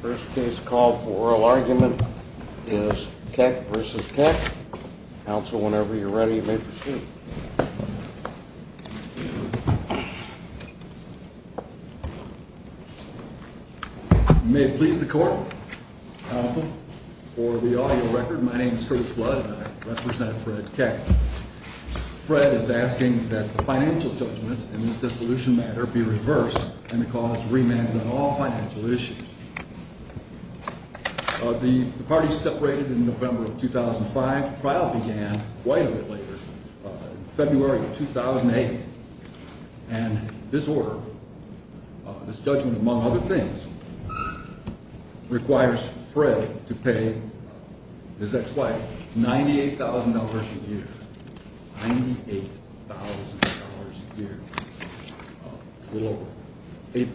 First case call for oral argument is Keck v. Keck. Counsel, whenever you're ready, you may proceed. You may please the court. Counsel, for the audio record, my name is Curtis Blood and I represent Fred Keck. Fred is asking that the financial judgments in this dissolution matter be reversed and the cause remanded on all financial issues. The parties separated in November of 2005. The trial began quite a bit later, February of 2008. And this order, this judgment among other things, requires Fred to pay his ex-wife $98,000 a year. $98,000 a year. It's a little over $8,000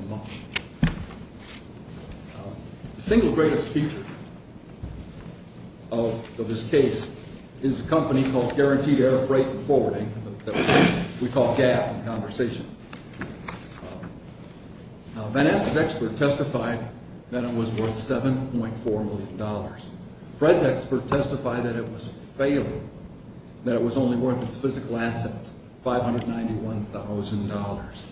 a month. The single greatest feature of this case is a company called Guaranteed Air Freight and Forwarding that we call GAF in conversation. Van Ness's expert testified that it was worth $7.4 million. Fred's expert testified that it was failing, that it was only worth its physical assets, $591,000.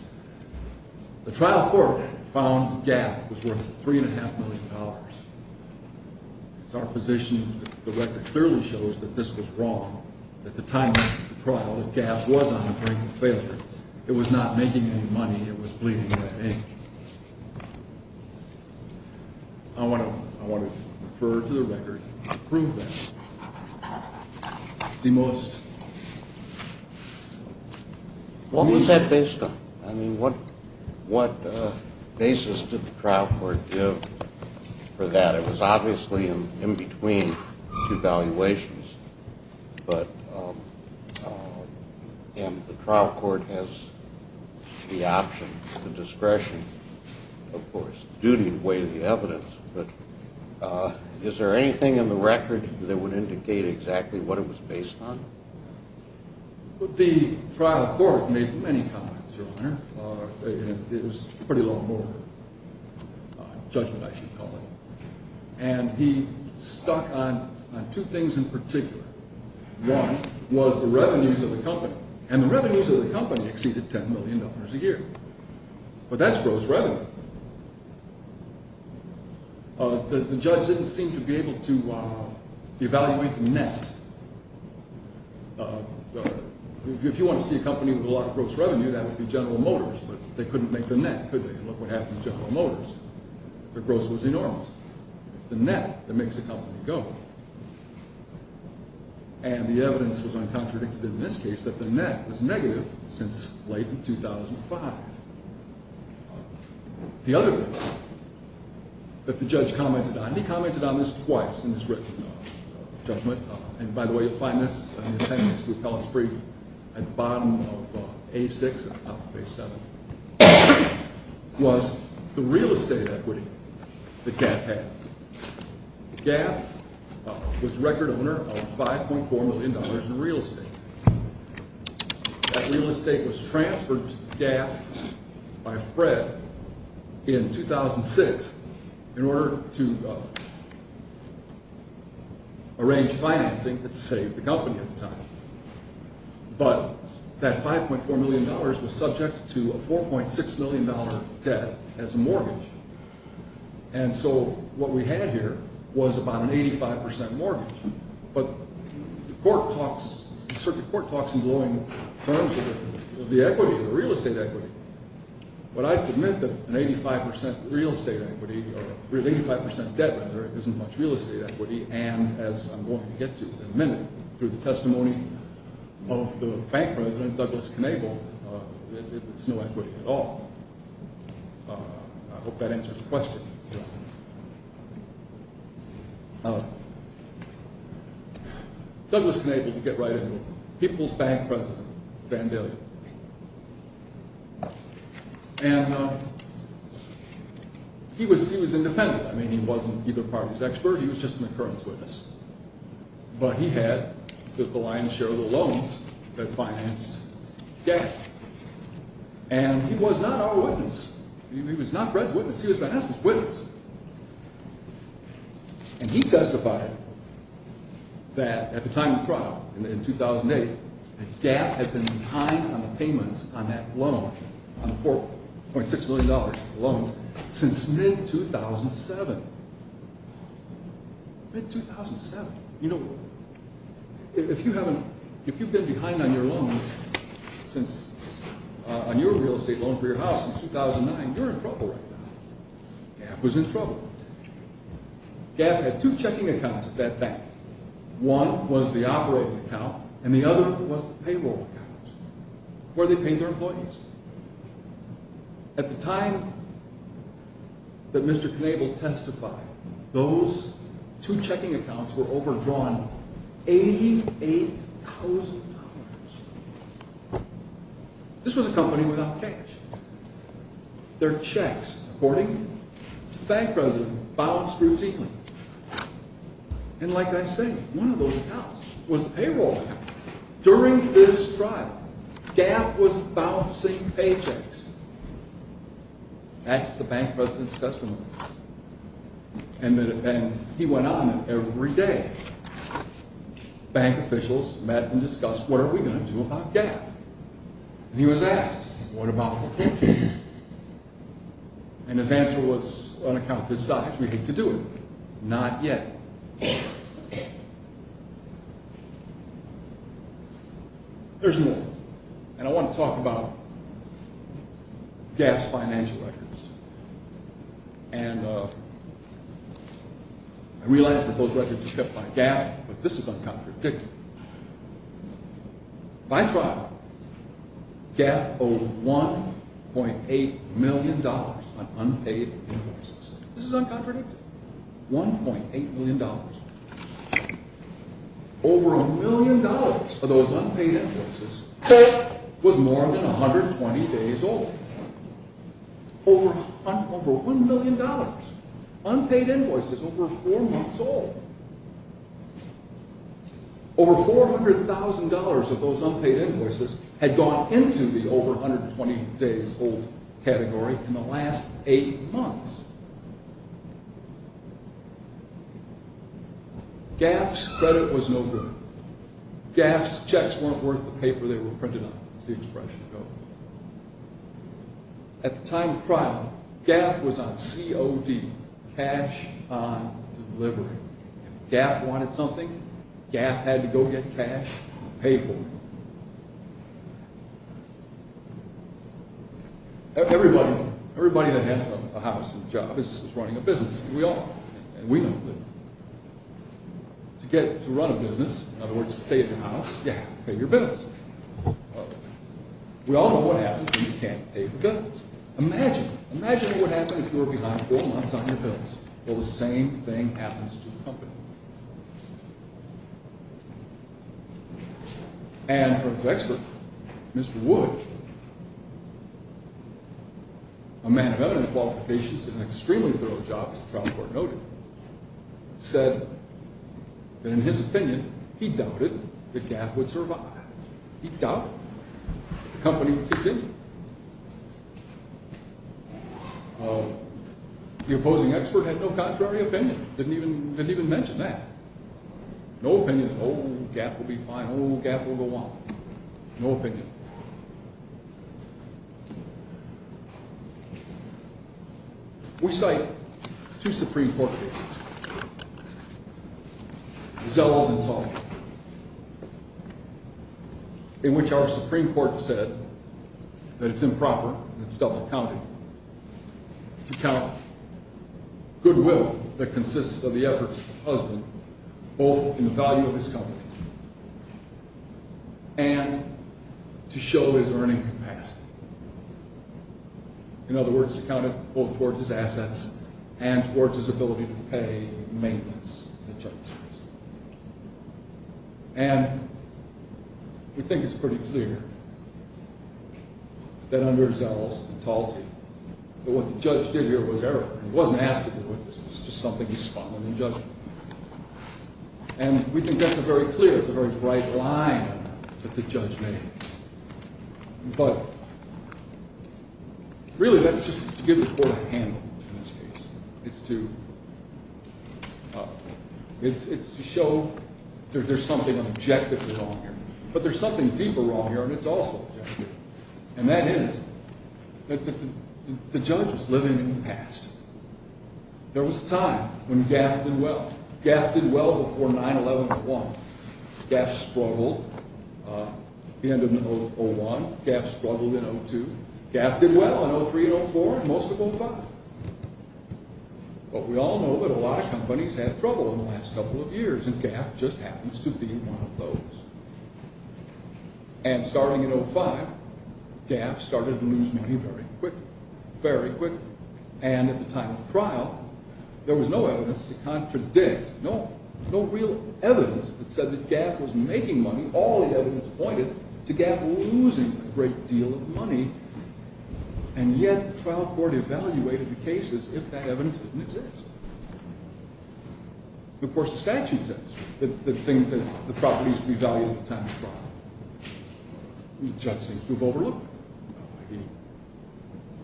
The trial court found GAF was worth $3.5 million. It's our position that the record clearly shows that this was wrong. At the time of the trial, that GAF was on the brink of failure. It was not making any money. It was bleeding red ink. I want to refer to the record to prove that. What was that based on? I mean, what basis did the trial court give for that? It was obviously in between two valuations. And the trial court has the option, the discretion, of course, due to the weight of the evidence. But is there anything in the record that would indicate exactly what it was based on? The trial court made many comments earlier. It was a pretty long board judgment, I should call it. And he stuck on two things in particular. One was the revenues of the company. And the revenues of the company exceeded $10 million a year. But that's gross revenue. The judge didn't seem to be able to evaluate the net. If you want to see a company with a lot of gross revenue, that would be General Motors, but they couldn't make the net, could they? Look what happened to General Motors. Their gross was enormous. It's the net that makes a company go. And the evidence was uncontradicted in this case that the net was negative since late 2005. The other thing that the judge commented on, and he commented on this twice in his written judgment, and by the way, you'll find this in the appendix to the appellate's brief, at the bottom of A6 and the top of A7, was the real estate equity that GAF had. GAF was the record owner of $5.4 million in real estate. That real estate was transferred to GAF by Fred in 2006 in order to arrange financing that saved the company at the time. But that $5.4 million was subject to a $4.6 million debt as a mortgage. And so what we had here was about an 85% mortgage. But the circuit court talks in glowing terms of the equity, the real estate equity. But I'd submit that an 85% debt isn't much real estate equity, and as I'm going to get to in a minute through the testimony of the bank president, Douglas Knavel, it's no equity at all. I hope that answers the question. Douglas Knavel, you get right into it, people's bank president, Vandalia. And he was independent. I mean, he wasn't either party's expert. He was just an occurrence witness. But he had the blind share of the loans that financed GAF. And he was not our witness. He was not Fred's witness. He was Vandalia's witness. And he testified that at the time of trial, in 2008, that GAF had been behind on the payments on that loan, on the $4.6 million loans, since mid-2007. Mid-2007. You know, if you've been behind on your loans since, on your real estate loan for your house since 2009, you're in trouble right now. GAF was in trouble. GAF had two checking accounts at that bank. One was the operating account, and the other was the payroll account, where they paid their employees. At the time that Mr. Knavel testified, those two checking accounts were overdrawn $88,000. This was a company without cash. Their checks, according to the bank president, bounced routinely. And like I say, one of those accounts was the payroll account. During this trial, GAF was bouncing paychecks. That's the bank president's testimony. And he went on, and every day, bank officials met and discussed, what are we going to do about GAF? And he was asked, what about the paycheck? And his answer was, on account of his size, we hate to do it. Not yet. There's more. And I want to talk about GAF's financial records. I realize that those records are kept by GAF, but this is uncontradictory. By trial, GAF owed $1.8 million on unpaid invoices. This is uncontradictory. $1.8 million. Over $1 million of those unpaid invoices was more than 120 days old. Over $1 million. Unpaid invoices over four months old. Over $400,000 of those unpaid invoices had gone into the over 120 days old category in the last eight months. GAF's credit was no good. GAF's checks weren't worth the paper they were printed on, as the expression goes. At the time of trial, GAF was on COD, cash on delivery. If GAF wanted something, GAF had to go get cash and pay for it. Everybody that has a house and a job is running a business. We all are. And we know that. To get to run a business, in other words, to stay in the house, you have to pay your bills. We all know what happens when you can't pay your bills. Imagine. Imagine what happens if you're behind four months on your bills. Well, the same thing happens to the company. And for his expert, Mr. Wood, a man of evident qualifications and an extremely thorough job, as the trial court noted, said that in his opinion, he doubted that GAF would survive. He doubted the company would continue. The opposing expert had no contrary opinion. Didn't even mention that. No opinion. Oh, GAF will be fine. Oh, GAF will go on. No opinion. We cite two Supreme Court cases, Zelos and Talbot, in which our Supreme Court said that it's improper, and it's double-counted, to count goodwill that consists of the efforts of the husband, both in the value of his company, and to show his earning capacity. In other words, to count it both towards his assets and towards his ability to pay maintenance and insurance. And we think it's pretty clear that under Zelos and Talbot, what the judge did here was error. He wasn't asking for witnesses. It's just something he spun when he judged. And we think that's a very clear, it's a very bright line that the judge made. But really, that's just to give the court a handle in this case. It's to show there's something objectively wrong here. But there's something deeper wrong here, and it's also objective. And that is that the judge was living in the past. There was a time when GAF did well. GAF did well before 9-11-01. GAF struggled at the end of 01. GAF struggled in 02. GAF did well in 03 and 04, and most of 05. But we all know that a lot of companies have trouble in the last couple of years, and GAF just happens to be one of those. And starting in 05, GAF started to lose money very quickly. Very quickly. And at the time of the trial, there was no evidence to contradict, no real evidence that said that GAF was making money. All the evidence pointed to GAF losing a great deal of money. And yet, the trial court evaluated the cases if that evidence didn't exist. Of course, the statute says that the property needs to be evaluated at the time of the trial. The judge seems to have overlooked it.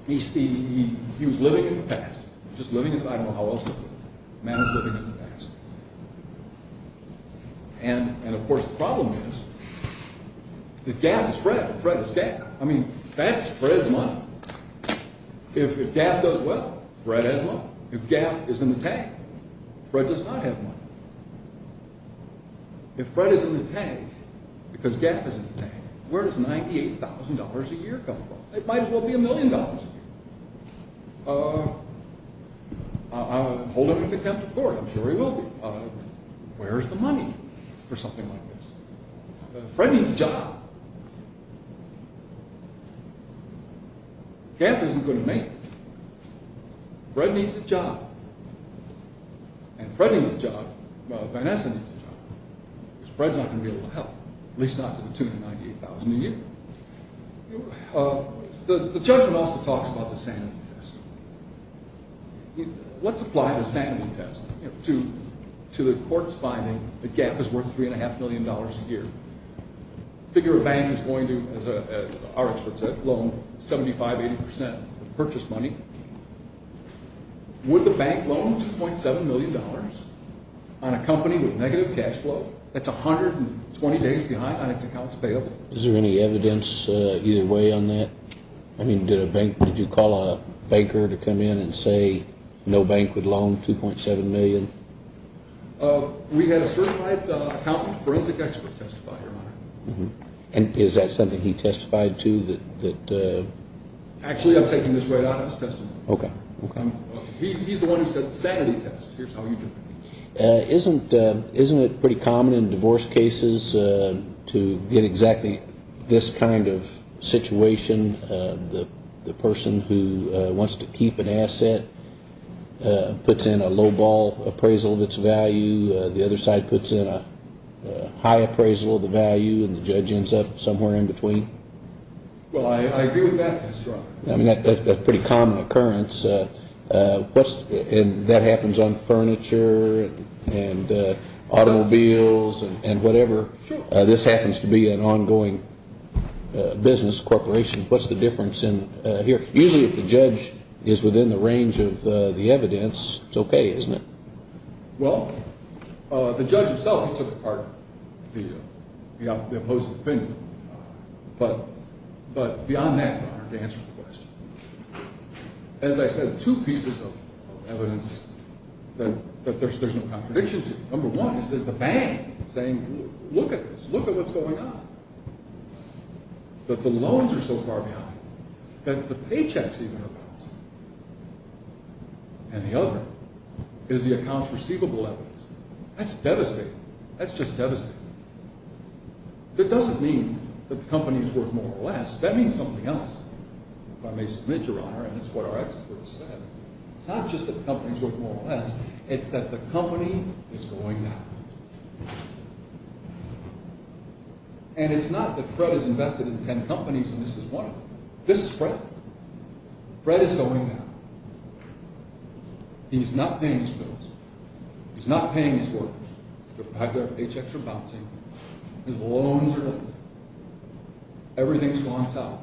He was living in the past. I don't know how else to put it. The man was living in the past. And, of course, the problem is that GAF is Fred, and Fred is GAF. I mean, that's Fred's money. If GAF does well, Fred has money. If GAF is in the tank, Fred does not have money. If Fred is in the tank, because GAF is in the tank, where does $98,000 a year come from? It might as well be a million dollars. Hold him to contempt of court. I'm sure he will be. Where is the money for something like this? Fred needs a job. GAF isn't going to make it. Fred needs a job. And Fred needs a job. Vanessa needs a job. Because Fred's not going to be able to help. At least not for the $298,000 a year. The judgment also talks about the sanity test. Let's apply the sanity test to the court's finding that GAF is worth $3.5 million a year. Figure a bank is going to, as our expert said, loan 75-80% of the purchase money. Would the bank loan $2.7 million on a company with negative cash flow? That's 120 days behind on its accounts payable. Is there any evidence either way on that? Did you call a banker to come in and say no bank would loan $2.7 million? We had a certified accountant forensic expert testify, Your Honor. Is that something he testified to? Actually, I've taken this right out of his testimony. He's the one who said the sanity test. Here's how you do it. Isn't it pretty common in divorce cases to get exactly this kind of situation? The person who wants to keep an asset puts in a low-ball appraisal of its value. The other side puts in a high appraisal of the value. And the judge ends up somewhere in between. Well, I agree with that. I mean, that's a pretty common occurrence. And that happens on furniture and automobiles and whatever. This happens to be an ongoing business corporation. What's the difference in here? Usually if the judge is within the range of the evidence, it's okay, isn't it? Well, the judge himself took part in the opposing opinion. But beyond that, Your Honor, to answer the question, as I said, two pieces of evidence that there's no contradiction to. Number one is the bank saying, look at this. Look at what's going on. That the loans are so far behind that the paychecks even are bouncing. And the other is the accounts receivable evidence. That's devastating. That's just devastating. It doesn't mean that the company is worth more or less. That means something else. If I may submit, Your Honor, and it's what our experts said. It's not just that the company is worth more or less. It's that the company is going down. And it's not that Fred is invested in ten companies and this is one of them. This is Fred. Fred is going down. He's not paying his bills. He's not paying his workers. The paychecks are bouncing. His loans are in. Everything's gone south.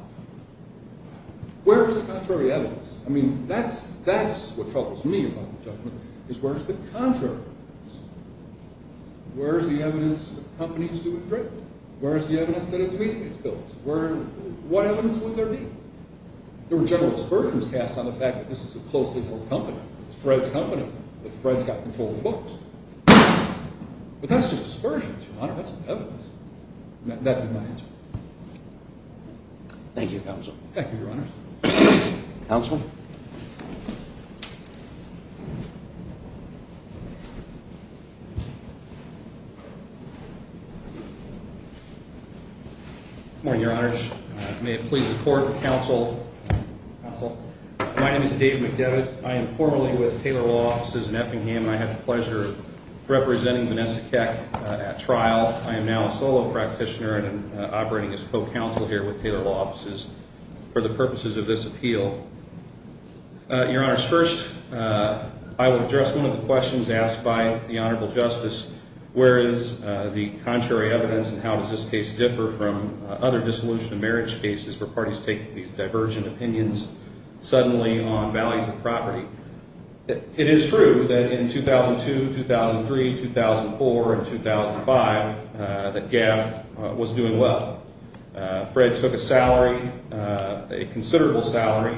Where is the contrary evidence? I mean, that's what troubles me about the judgment. Is where is the contrary evidence? Where is the evidence that companies do a great deal? Where is the evidence that it's weak, its bills? What evidence would there be? There were general aspersions cast on the fact that this is a closely held company. It's Fred's company. But Fred's got control of the books. But that's just aspersions, Your Honor. That's the evidence. That would be my answer. Thank you, Counsel. Thank you, Your Honor. Counsel. Good morning, Your Honors. May it please the Court, Counsel. Counsel. My name is David McDevitt. I am formerly with Taylor Law Offices in Effingham. And I have the pleasure of representing Vanessa Keck at trial. I am now a solo practitioner and I'm operating as co-counsel here with Taylor Law Offices for the purposes of this appeal. Your Honors, first, I will address one of the questions asked by the Honorable Justice. Where is the contrary evidence and how does this case differ from other dissolution of marriage cases where parties take these divergent opinions suddenly on values of property? It is true that in 2002, 2003, 2004, and 2005 that GAAF was doing well. Fred took a salary, a considerable salary,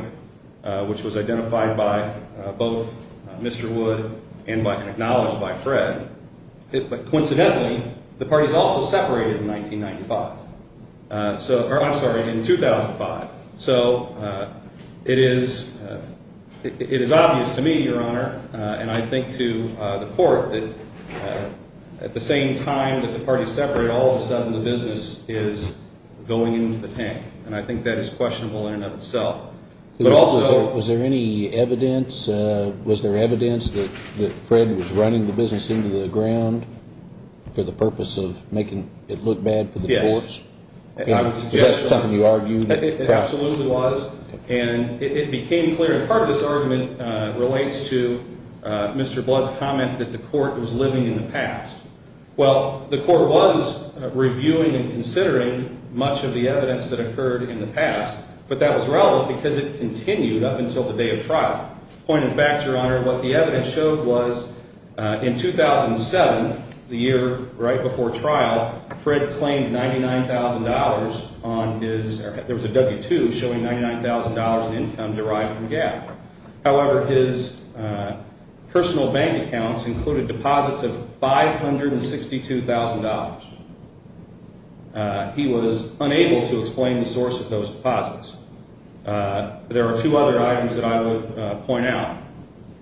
which was identified by both Mr. Wood and acknowledged by Fred. But coincidentally, the parties also separated in 1995. I'm sorry, in 2005. So it is obvious to me, Your Honor, and I think to the Court, that at the same time that the parties separated, all of a sudden the business is going into the tank. And I think that is questionable in and of itself. Was there any evidence, was there evidence that Fred was running the business into the ground for the purpose of making it look bad for the courts? Yes. Is that something you argue? It absolutely was. And it became clear, and part of this argument relates to Mr. Blood's comment that the Court was living in the past. Well, the Court was reviewing and considering much of the evidence that occurred in the past, but that was relevant because it continued up until the day of trial. Point of fact, Your Honor, what the evidence showed was in 2007, the year right before trial, Fred claimed $99,000 on his, there was a W-2 showing $99,000 in income derived from GAF. However, his personal bank accounts included deposits of $562,000. He was unable to explain the source of those deposits. There are two other items that I would point out.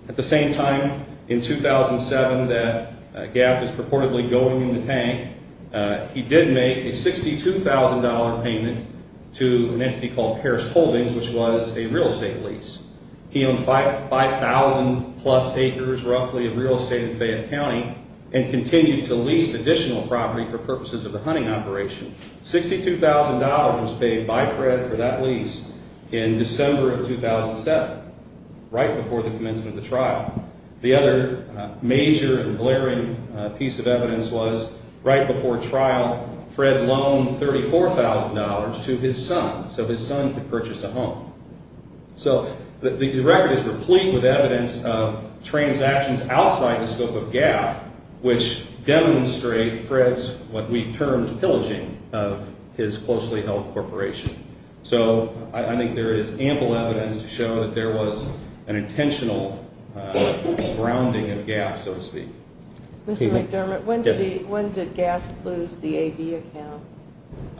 At the same time in 2007 that GAF was purportedly going in the tank, he did make a $62,000 payment to an entity called Parris Holdings, which was a real estate lease. He owned 5,000 plus acres roughly of real estate in Fayette County and continued to lease additional property for purposes of the hunting operation. $62,000 was paid by Fred for that lease in December of 2007, right before the commencement of the trial. The other major and glaring piece of evidence was right before trial, Fred loaned $34,000 to his son so his son could purchase a home. So the record is replete with evidence of transactions outside the scope of GAF which demonstrate Fred's, what we termed, pillaging of his closely held corporation. So I think there is ample evidence to show that there was an intentional grounding of GAF, so to speak. Mr. McDermott, when did GAF lose the AB account?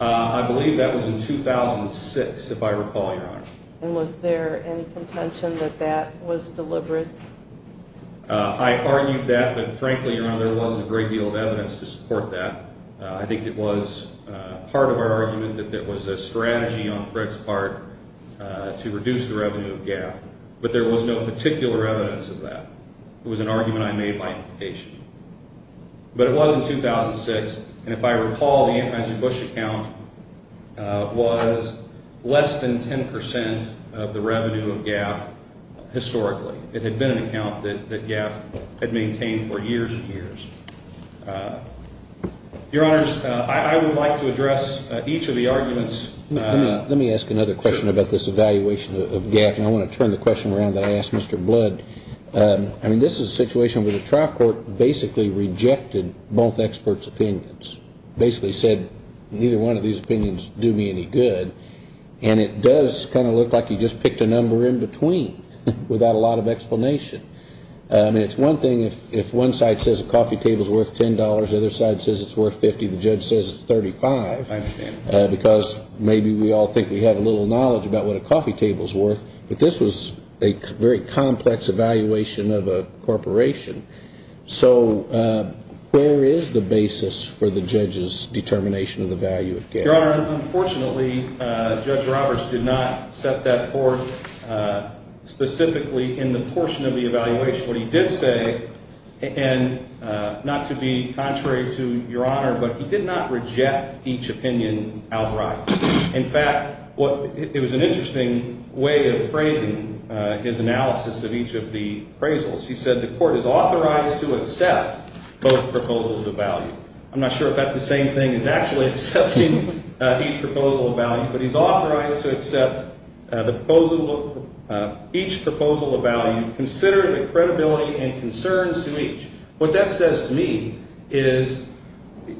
I believe that was in 2006, if I recall, Your Honor. And was there any contention that that was deliberate? I argued that, but frankly, Your Honor, there wasn't a great deal of evidence to support that. I think it was part of our argument that there was a strategy on Fred's part to reduce the revenue of GAF, but there was no particular evidence of that. It was an argument I made by implication. But it was in 2006, and if I recall, the Anheuser-Busch account was less than 10% of the revenue of GAF historically. It had been an account that GAF had maintained for years and years. Your Honors, I would like to address each of the arguments. Let me ask another question about this evaluation of GAF. And I want to turn the question around that I asked Mr. Blood. I mean, this is a situation where the trial court basically rejected both experts' opinions. Basically said, neither one of these opinions do me any good. And it does kind of look like you just picked a number in between without a lot of explanation. I mean, it's one thing if one side says a coffee table's worth $10, the other side says it's worth $50, the judge says it's $35. I understand. Because maybe we all think we have a little knowledge about what a coffee table's worth, but this was a very complex evaluation of a corporation. So where is the basis for the judge's determination of the value of GAF? Your Honor, unfortunately, Judge Roberts did not set that forth specifically in the portion of the evaluation. What he did say, and not to be contrary to Your Honor, but he did not reject each opinion outright. In fact, it was an interesting way of phrasing his analysis of each of the appraisals. He said the court is authorized to accept both proposals of value. I'm not sure if that's the same thing as actually accepting each proposal of value, but he's authorized to accept each proposal of value, consider the credibility and concerns to each. What that says to me is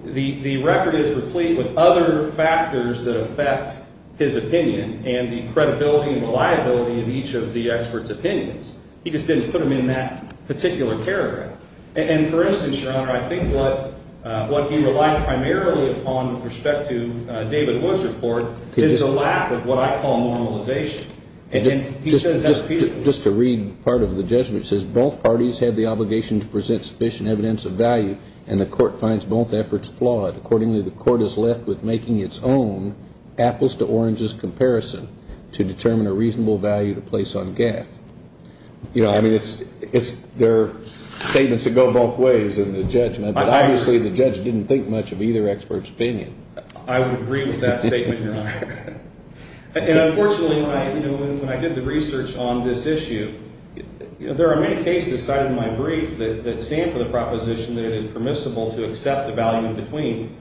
the record is replete with other factors that affect his opinion and the credibility and reliability of each of the experts' opinions. He just didn't put them in that particular paragraph. And for instance, Your Honor, I think what he relied primarily upon with respect to David Wood's report is the lack of what I call normalization. And he says that repeatedly. Just to read part of the judgment, it says both parties have the obligation to present sufficient evidence of value and the court finds both efforts flawed. Accordingly, the court is left with making its own apples-to-oranges comparison to determine a reasonable value to place on GAF. I mean, there are statements that go both ways in the judgment, but obviously the judge didn't think much of either expert's opinion. I would agree with that statement, Your Honor. And unfortunately, when I did the research on this issue, there are many cases cited in my brief that stand for the proposition that it is permissible to accept the value in between.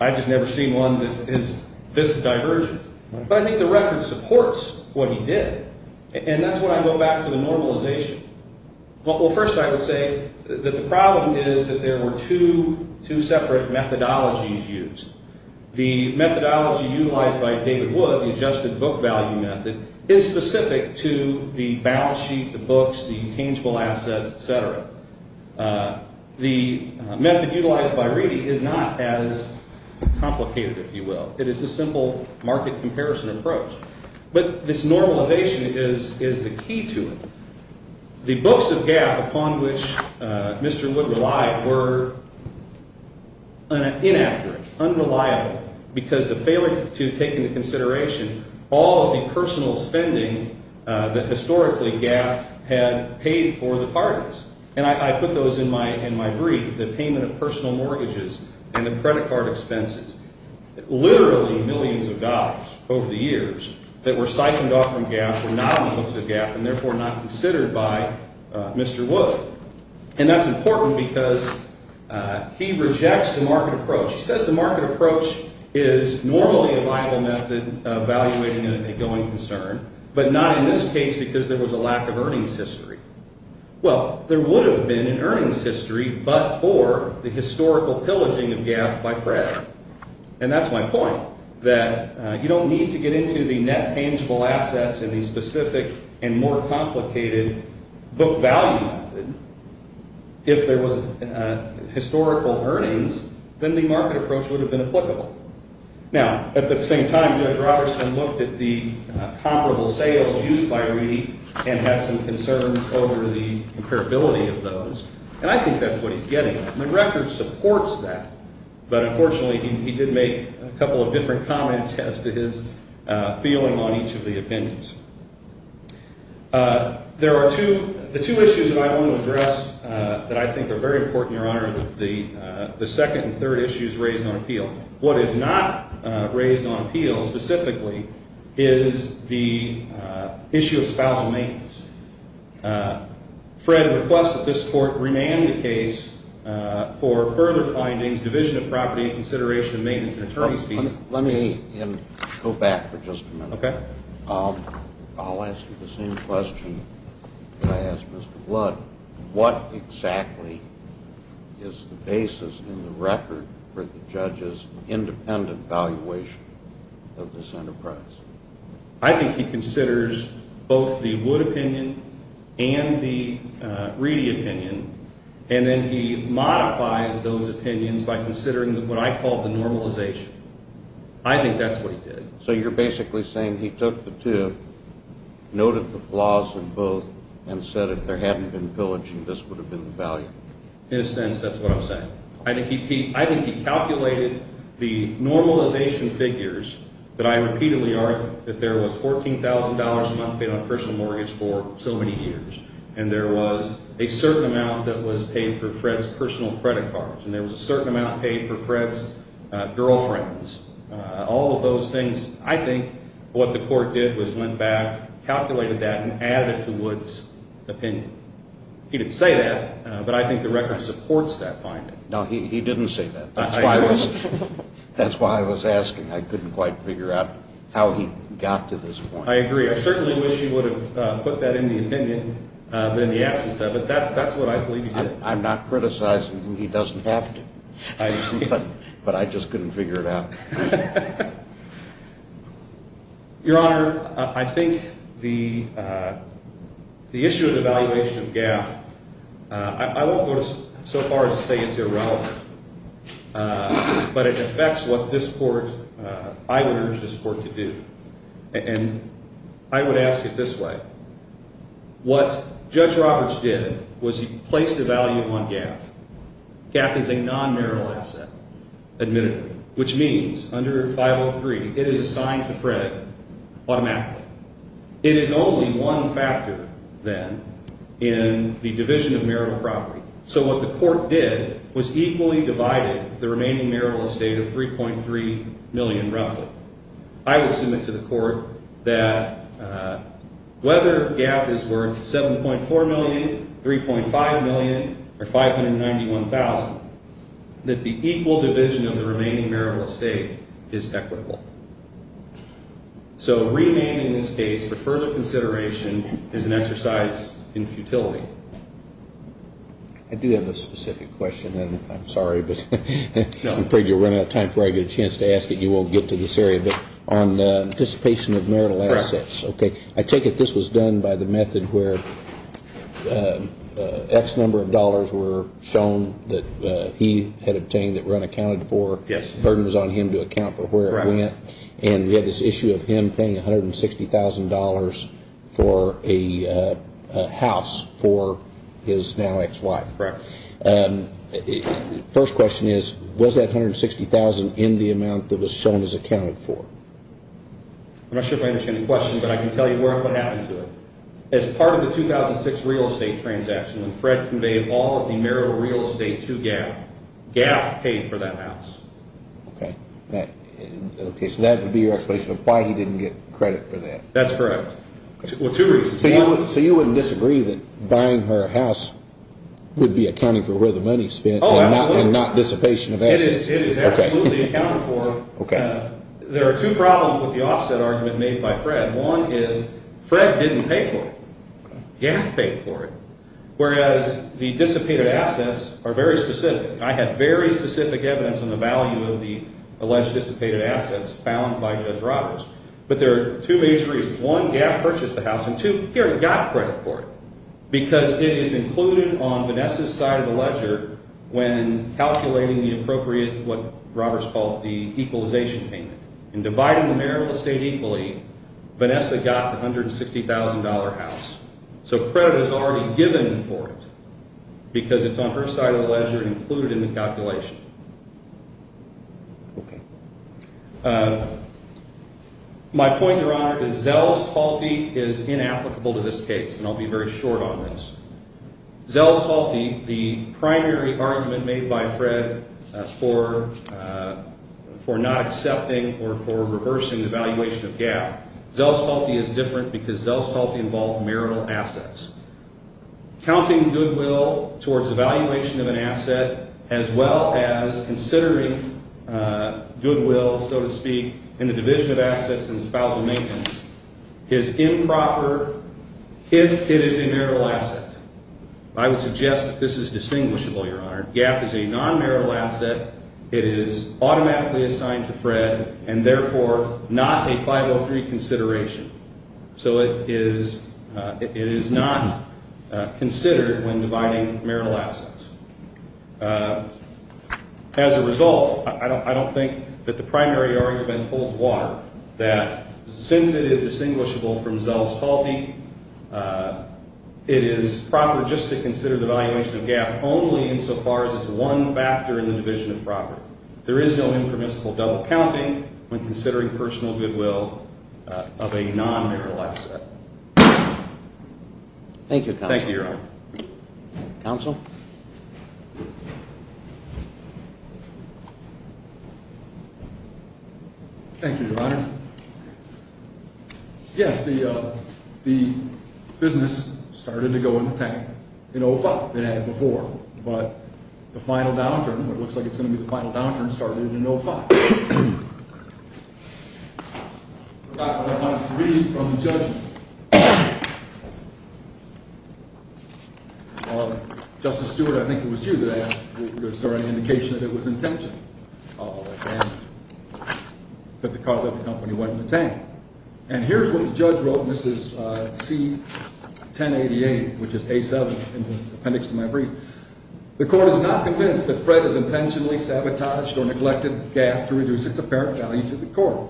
I've just never seen one that is this divergent. But I think the record supports what he did. And that's when I go back to the normalization. Well, first I would say that the problem is that there were two separate methodologies used. The methodology utilized by David Wood, the adjusted book value method, is specific to the balance sheet, the books, the intangible assets, et cetera. The method utilized by Reedy is not as complicated, if you will. It is a simple market comparison approach. But this normalization is the key to it. The books of GAF upon which Mr. Wood relied were inaccurate, unreliable, because the failure to take into consideration all of the personal spending that historically GAF had paid for the parties. And I put those in my brief, the payment of personal mortgages and the credit card expenses. Literally millions of dollars over the years that were siphoned off from GAF were not on the books of GAF and therefore not considered by Mr. Wood. And that's important because he rejects the market approach. He says the market approach is normally a viable method of evaluating a going concern, but not in this case because there was a lack of earnings history. Well, there would have been an earnings history, but for the historical pillaging of GAF by Fred. And that's my point, that you don't need to get into the net tangible assets and the specific and more complicated book value method. If there was historical earnings, then the market approach would have been applicable. Now, at the same time, Judge Robertson looked at the comparable sales used by Reedy and had some concerns over the comparability of those. And I think that's what he's getting. McGregor supports that. But unfortunately, he did make a couple of different comments as to his feeling on each of the opinions. The two issues that I want to address that I think are very important, Your Honor, are the second and third issues raised on appeal. What is not raised on appeal specifically is the issue of spousal maintenance. Fred requests that this Court rename the case for further findings, division of property and consideration of maintenance and attorney's fees. Let me go back for just a minute. Okay. I'll ask you the same question that I asked Mr. Blood. What exactly is the basis in the record for the judge's independent valuation of this enterprise? I think he considers both the Wood opinion and the Reedy opinion, and then he modifies those opinions by considering what I call the normalization. I think that's what he did. So you're basically saying he took the two, noted the flaws in both, and said if there hadn't been pillaging, this would have been the value? In a sense, that's what I'm saying. I think he calculated the normalization figures that I repeatedly argue, that there was $14,000 a month paid on a personal mortgage for so many years, and there was a certain amount that was paid for Fred's personal credit cards, and there was a certain amount paid for Fred's girlfriends. All of those things, I think what the Court did was went back, calculated that, and added it to Wood's opinion. He didn't say that, but I think the record supports that finding. No, he didn't say that. That's why I was asking. I couldn't quite figure out how he got to this point. I agree. I certainly wish he would have put that in the opinion, but in the absence of it, that's what I believe he did. I'm not criticizing him. He doesn't have to, but I just couldn't figure it out. Your Honor, I think the issue of the valuation of GAF, I won't go so far as to say it's irrelevant, but it affects what this Court, I would urge this Court to do, and I would ask it this way. What Judge Roberts did was he placed a value on GAF. GAF is a non-marital asset, admittedly, which means under 503, it is assigned to Fred automatically. It is only one factor, then, in the division of marital property. So what the Court did was equally divided the remaining marital estate of $3.3 million, roughly. I would submit to the Court that whether GAF is worth $7.4 million, $3.5 million, or $591,000, that the equal division of the remaining marital estate is equitable. So remaining in this case for further consideration is an exercise in futility. I do have a specific question, and I'm sorry, but I'm afraid you'll run out of time before I get a chance to ask it. You won't get to this area, but on the dissipation of marital assets, I take it this was done by the method where X number of dollars were shown that he had obtained that were unaccounted for. Yes. The burden was on him to account for where it went. Correct. And we had this issue of him paying $160,000 for a house for his now ex-wife. Correct. First question is, was that $160,000 in the amount that was shown as accounted for? I'm not sure if I understand the question, but I can tell you what happened to it. As part of the 2006 real estate transaction, when Fred conveyed all of the marital real estate to Gaff, Gaff paid for that house. Okay. So that would be your explanation of why he didn't get credit for that. That's correct. Well, two reasons. So you wouldn't disagree that buying her house would be accounting for where the money is spent and not dissipation of assets? It is absolutely accounted for. There are two problems with the offset argument made by Fred. One is Fred didn't pay for it. Gaff paid for it. Whereas the dissipated assets are very specific. I have very specific evidence on the value of the alleged dissipated assets found by Judge Roberts. But there are two major reasons. One, Gaff purchased the house, and two, he already got credit for it because it is included on Vanessa's side of the ledger when calculating the appropriate, what Roberts called the equalization payment. In dividing the marital estate equally, Vanessa got the $160,000 house. So credit is already given for it because it's on her side of the ledger and included in the calculation. Okay. My point, Your Honor, is Zell's faulty is inapplicable to this case, and I'll be very short on this. Zell's faulty, the primary argument made by Fred for not accepting or for reversing the valuation of Gaff. Zell's faulty is different because Zell's faulty involved marital assets. Counting goodwill towards the valuation of an asset as well as considering goodwill, so to speak, in the division of assets and spousal maintenance is improper if it is a marital asset. I would suggest that this is distinguishable, Your Honor. Gaff is a non-marital asset. It is automatically assigned to Fred and therefore not a 503 consideration. So it is not considered when dividing marital assets. As a result, I don't think that the primary argument holds water that since it is distinguishable from Zell's faulty, it is proper just to consider the valuation of Gaff only insofar as it's one factor in the division of property. There is no impermissible double counting when considering personal goodwill of a non-marital asset. Thank you, Counsel. Thank you, Your Honor. Counsel? Thank you, Your Honor. Yes, the business started to go into tank. In 05, it had before. But the final downturn, or it looks like it's going to be the final downturn, started in 05. I forgot what I wanted to read from the judgment. Justice Stewart, I think it was you that asked, was there any indication that it was intentional that the car that the company went into tank? And here's what the judge wrote. And this is C1088, which is A7 in the appendix to my brief. The court is not convinced that Fred has intentionally sabotaged or neglected Gaff to reduce its apparent value to the court.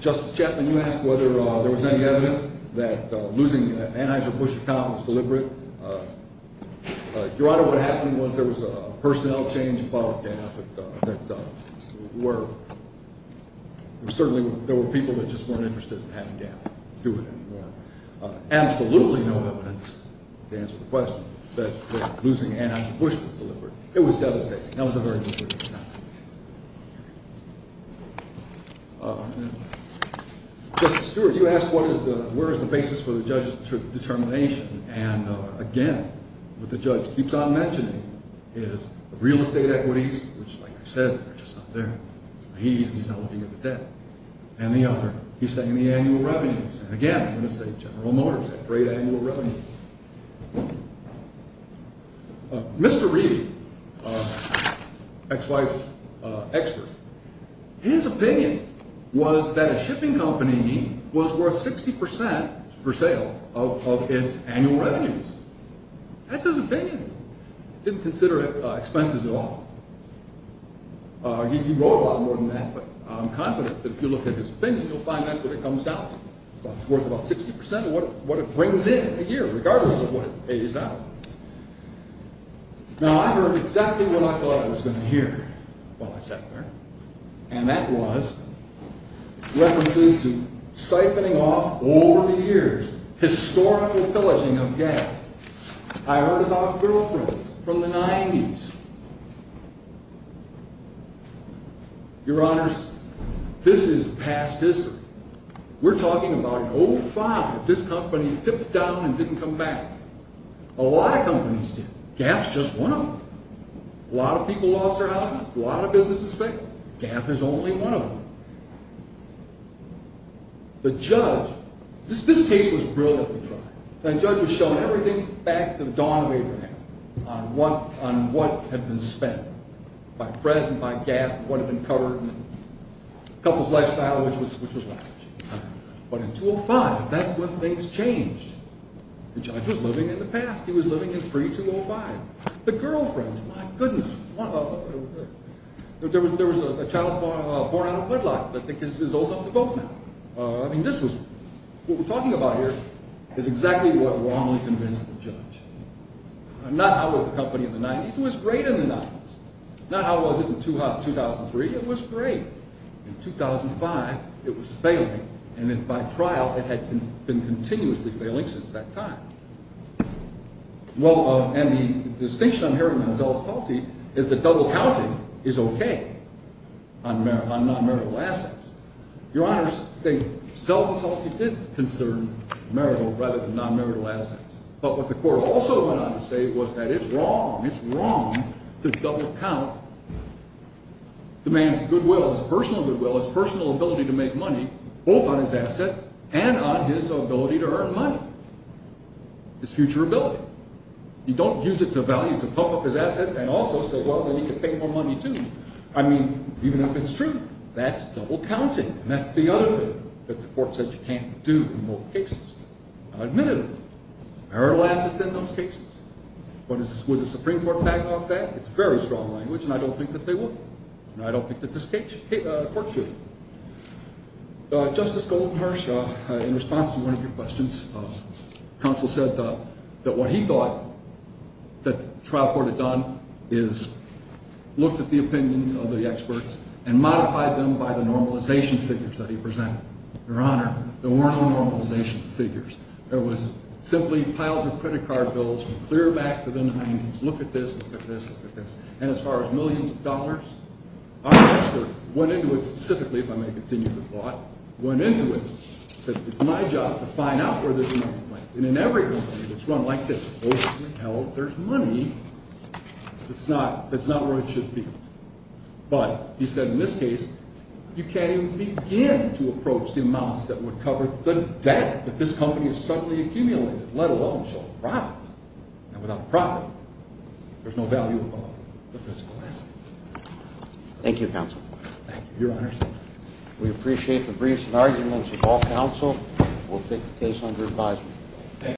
Justice Chapman, you asked whether there was any evidence that losing an Anheuser-Busch account was deliberate. Your Honor, what happened was there was a personnel change involving Gaff that were, certainly there were people that just weren't interested in having Gaff do it anymore. Absolutely no evidence, to answer the question, that losing an Anheuser-Busch was deliberate. It was devastating. That was a very deliberate attack. Justice Stewart, you asked where is the basis for the judge's determination. And again, what the judge keeps on mentioning is real estate equities, which like I said, they're just not there. He's not looking at the debt. And the other, he's saying the annual revenues. And again, I'm going to say General Motors had great annual revenues. Mr. Reed, ex-wife expert, his opinion was that a shipping company was worth 60% per sale of its annual revenues. That's his opinion. He didn't consider expenses at all. He wrote a lot more than that, but I'm confident that if you look at his opinion, you'll find that's what it comes down to. It's worth about 60% of what it brings in a year, regardless of what it pays out. Now, I heard exactly what I thought I was going to hear while I sat there. over the years historical pillaging of Gaff. I heard about girlfriends from the 90s. Your honors, this is past history. We're talking about an old file that this company tipped down and didn't come back. A lot of companies did. Gaff's just one of them. A lot of people lost their houses, a lot of businesses failed. Gaff is only one of them. The judge, this case was brilliantly tried. The judge was shown everything back to the dawn of Abraham on what had been spent, by Fred and by Gaff, what had been covered, and the couple's lifestyle, which was what? But in 205, that's when things changed. The judge was living in the past. He was living in pre-205. The girlfriends, my goodness. There was a child born out of wedlock that I think is old enough to vote now. I mean, what we're talking about here is exactly what wrongly convinced the judge. Not how was the company in the 90s. It was great in the 90s. Not how was it in 2003. It was great. In 2005, it was failing, and by trial, it had been continuously failing since that time. Well, and the distinction I'm hearing on Zell's Faulty is that double counting is okay on non-marital assets. Your honors, Zell's Faulty did concern marital rather than non-marital assets, but what the court also went on to say was that it's wrong, it's wrong to double count the man's goodwill, his personal goodwill, his personal ability to make money, both on his assets and on his ability to earn money, his future ability. You don't use it to value, to puff up his assets and also say, well, then he can pay more money, too. I mean, even if it's true, that's double counting, and that's the other thing that the court said. Now, admittedly, marital assets in those cases, but would the Supreme Court back off that? It's very strong language, and I don't think that they would, and I don't think that this court should. Justice Goldenhersch, in response to one of your questions, counsel said that what he thought that the trial court had done is looked at the opinions of the experts and modified them so that there was simply piles of credit card bills from clear back to the 90s, look at this, look at this, look at this, and as far as millions of dollars, our expert went into it specifically, if I may continue the thought, went into it, said it's my job to find out where this money went, and in every company that's run like this, there's money, that's not where it should be, but he said in this case, you can't even begin to approach what suddenly accumulated, let alone show profit, and without profit, there's no value of the physical asset. Thank you, counsel. Thank you, your honor. We appreciate the briefs and arguments of all counsel. We'll take the case under advisement.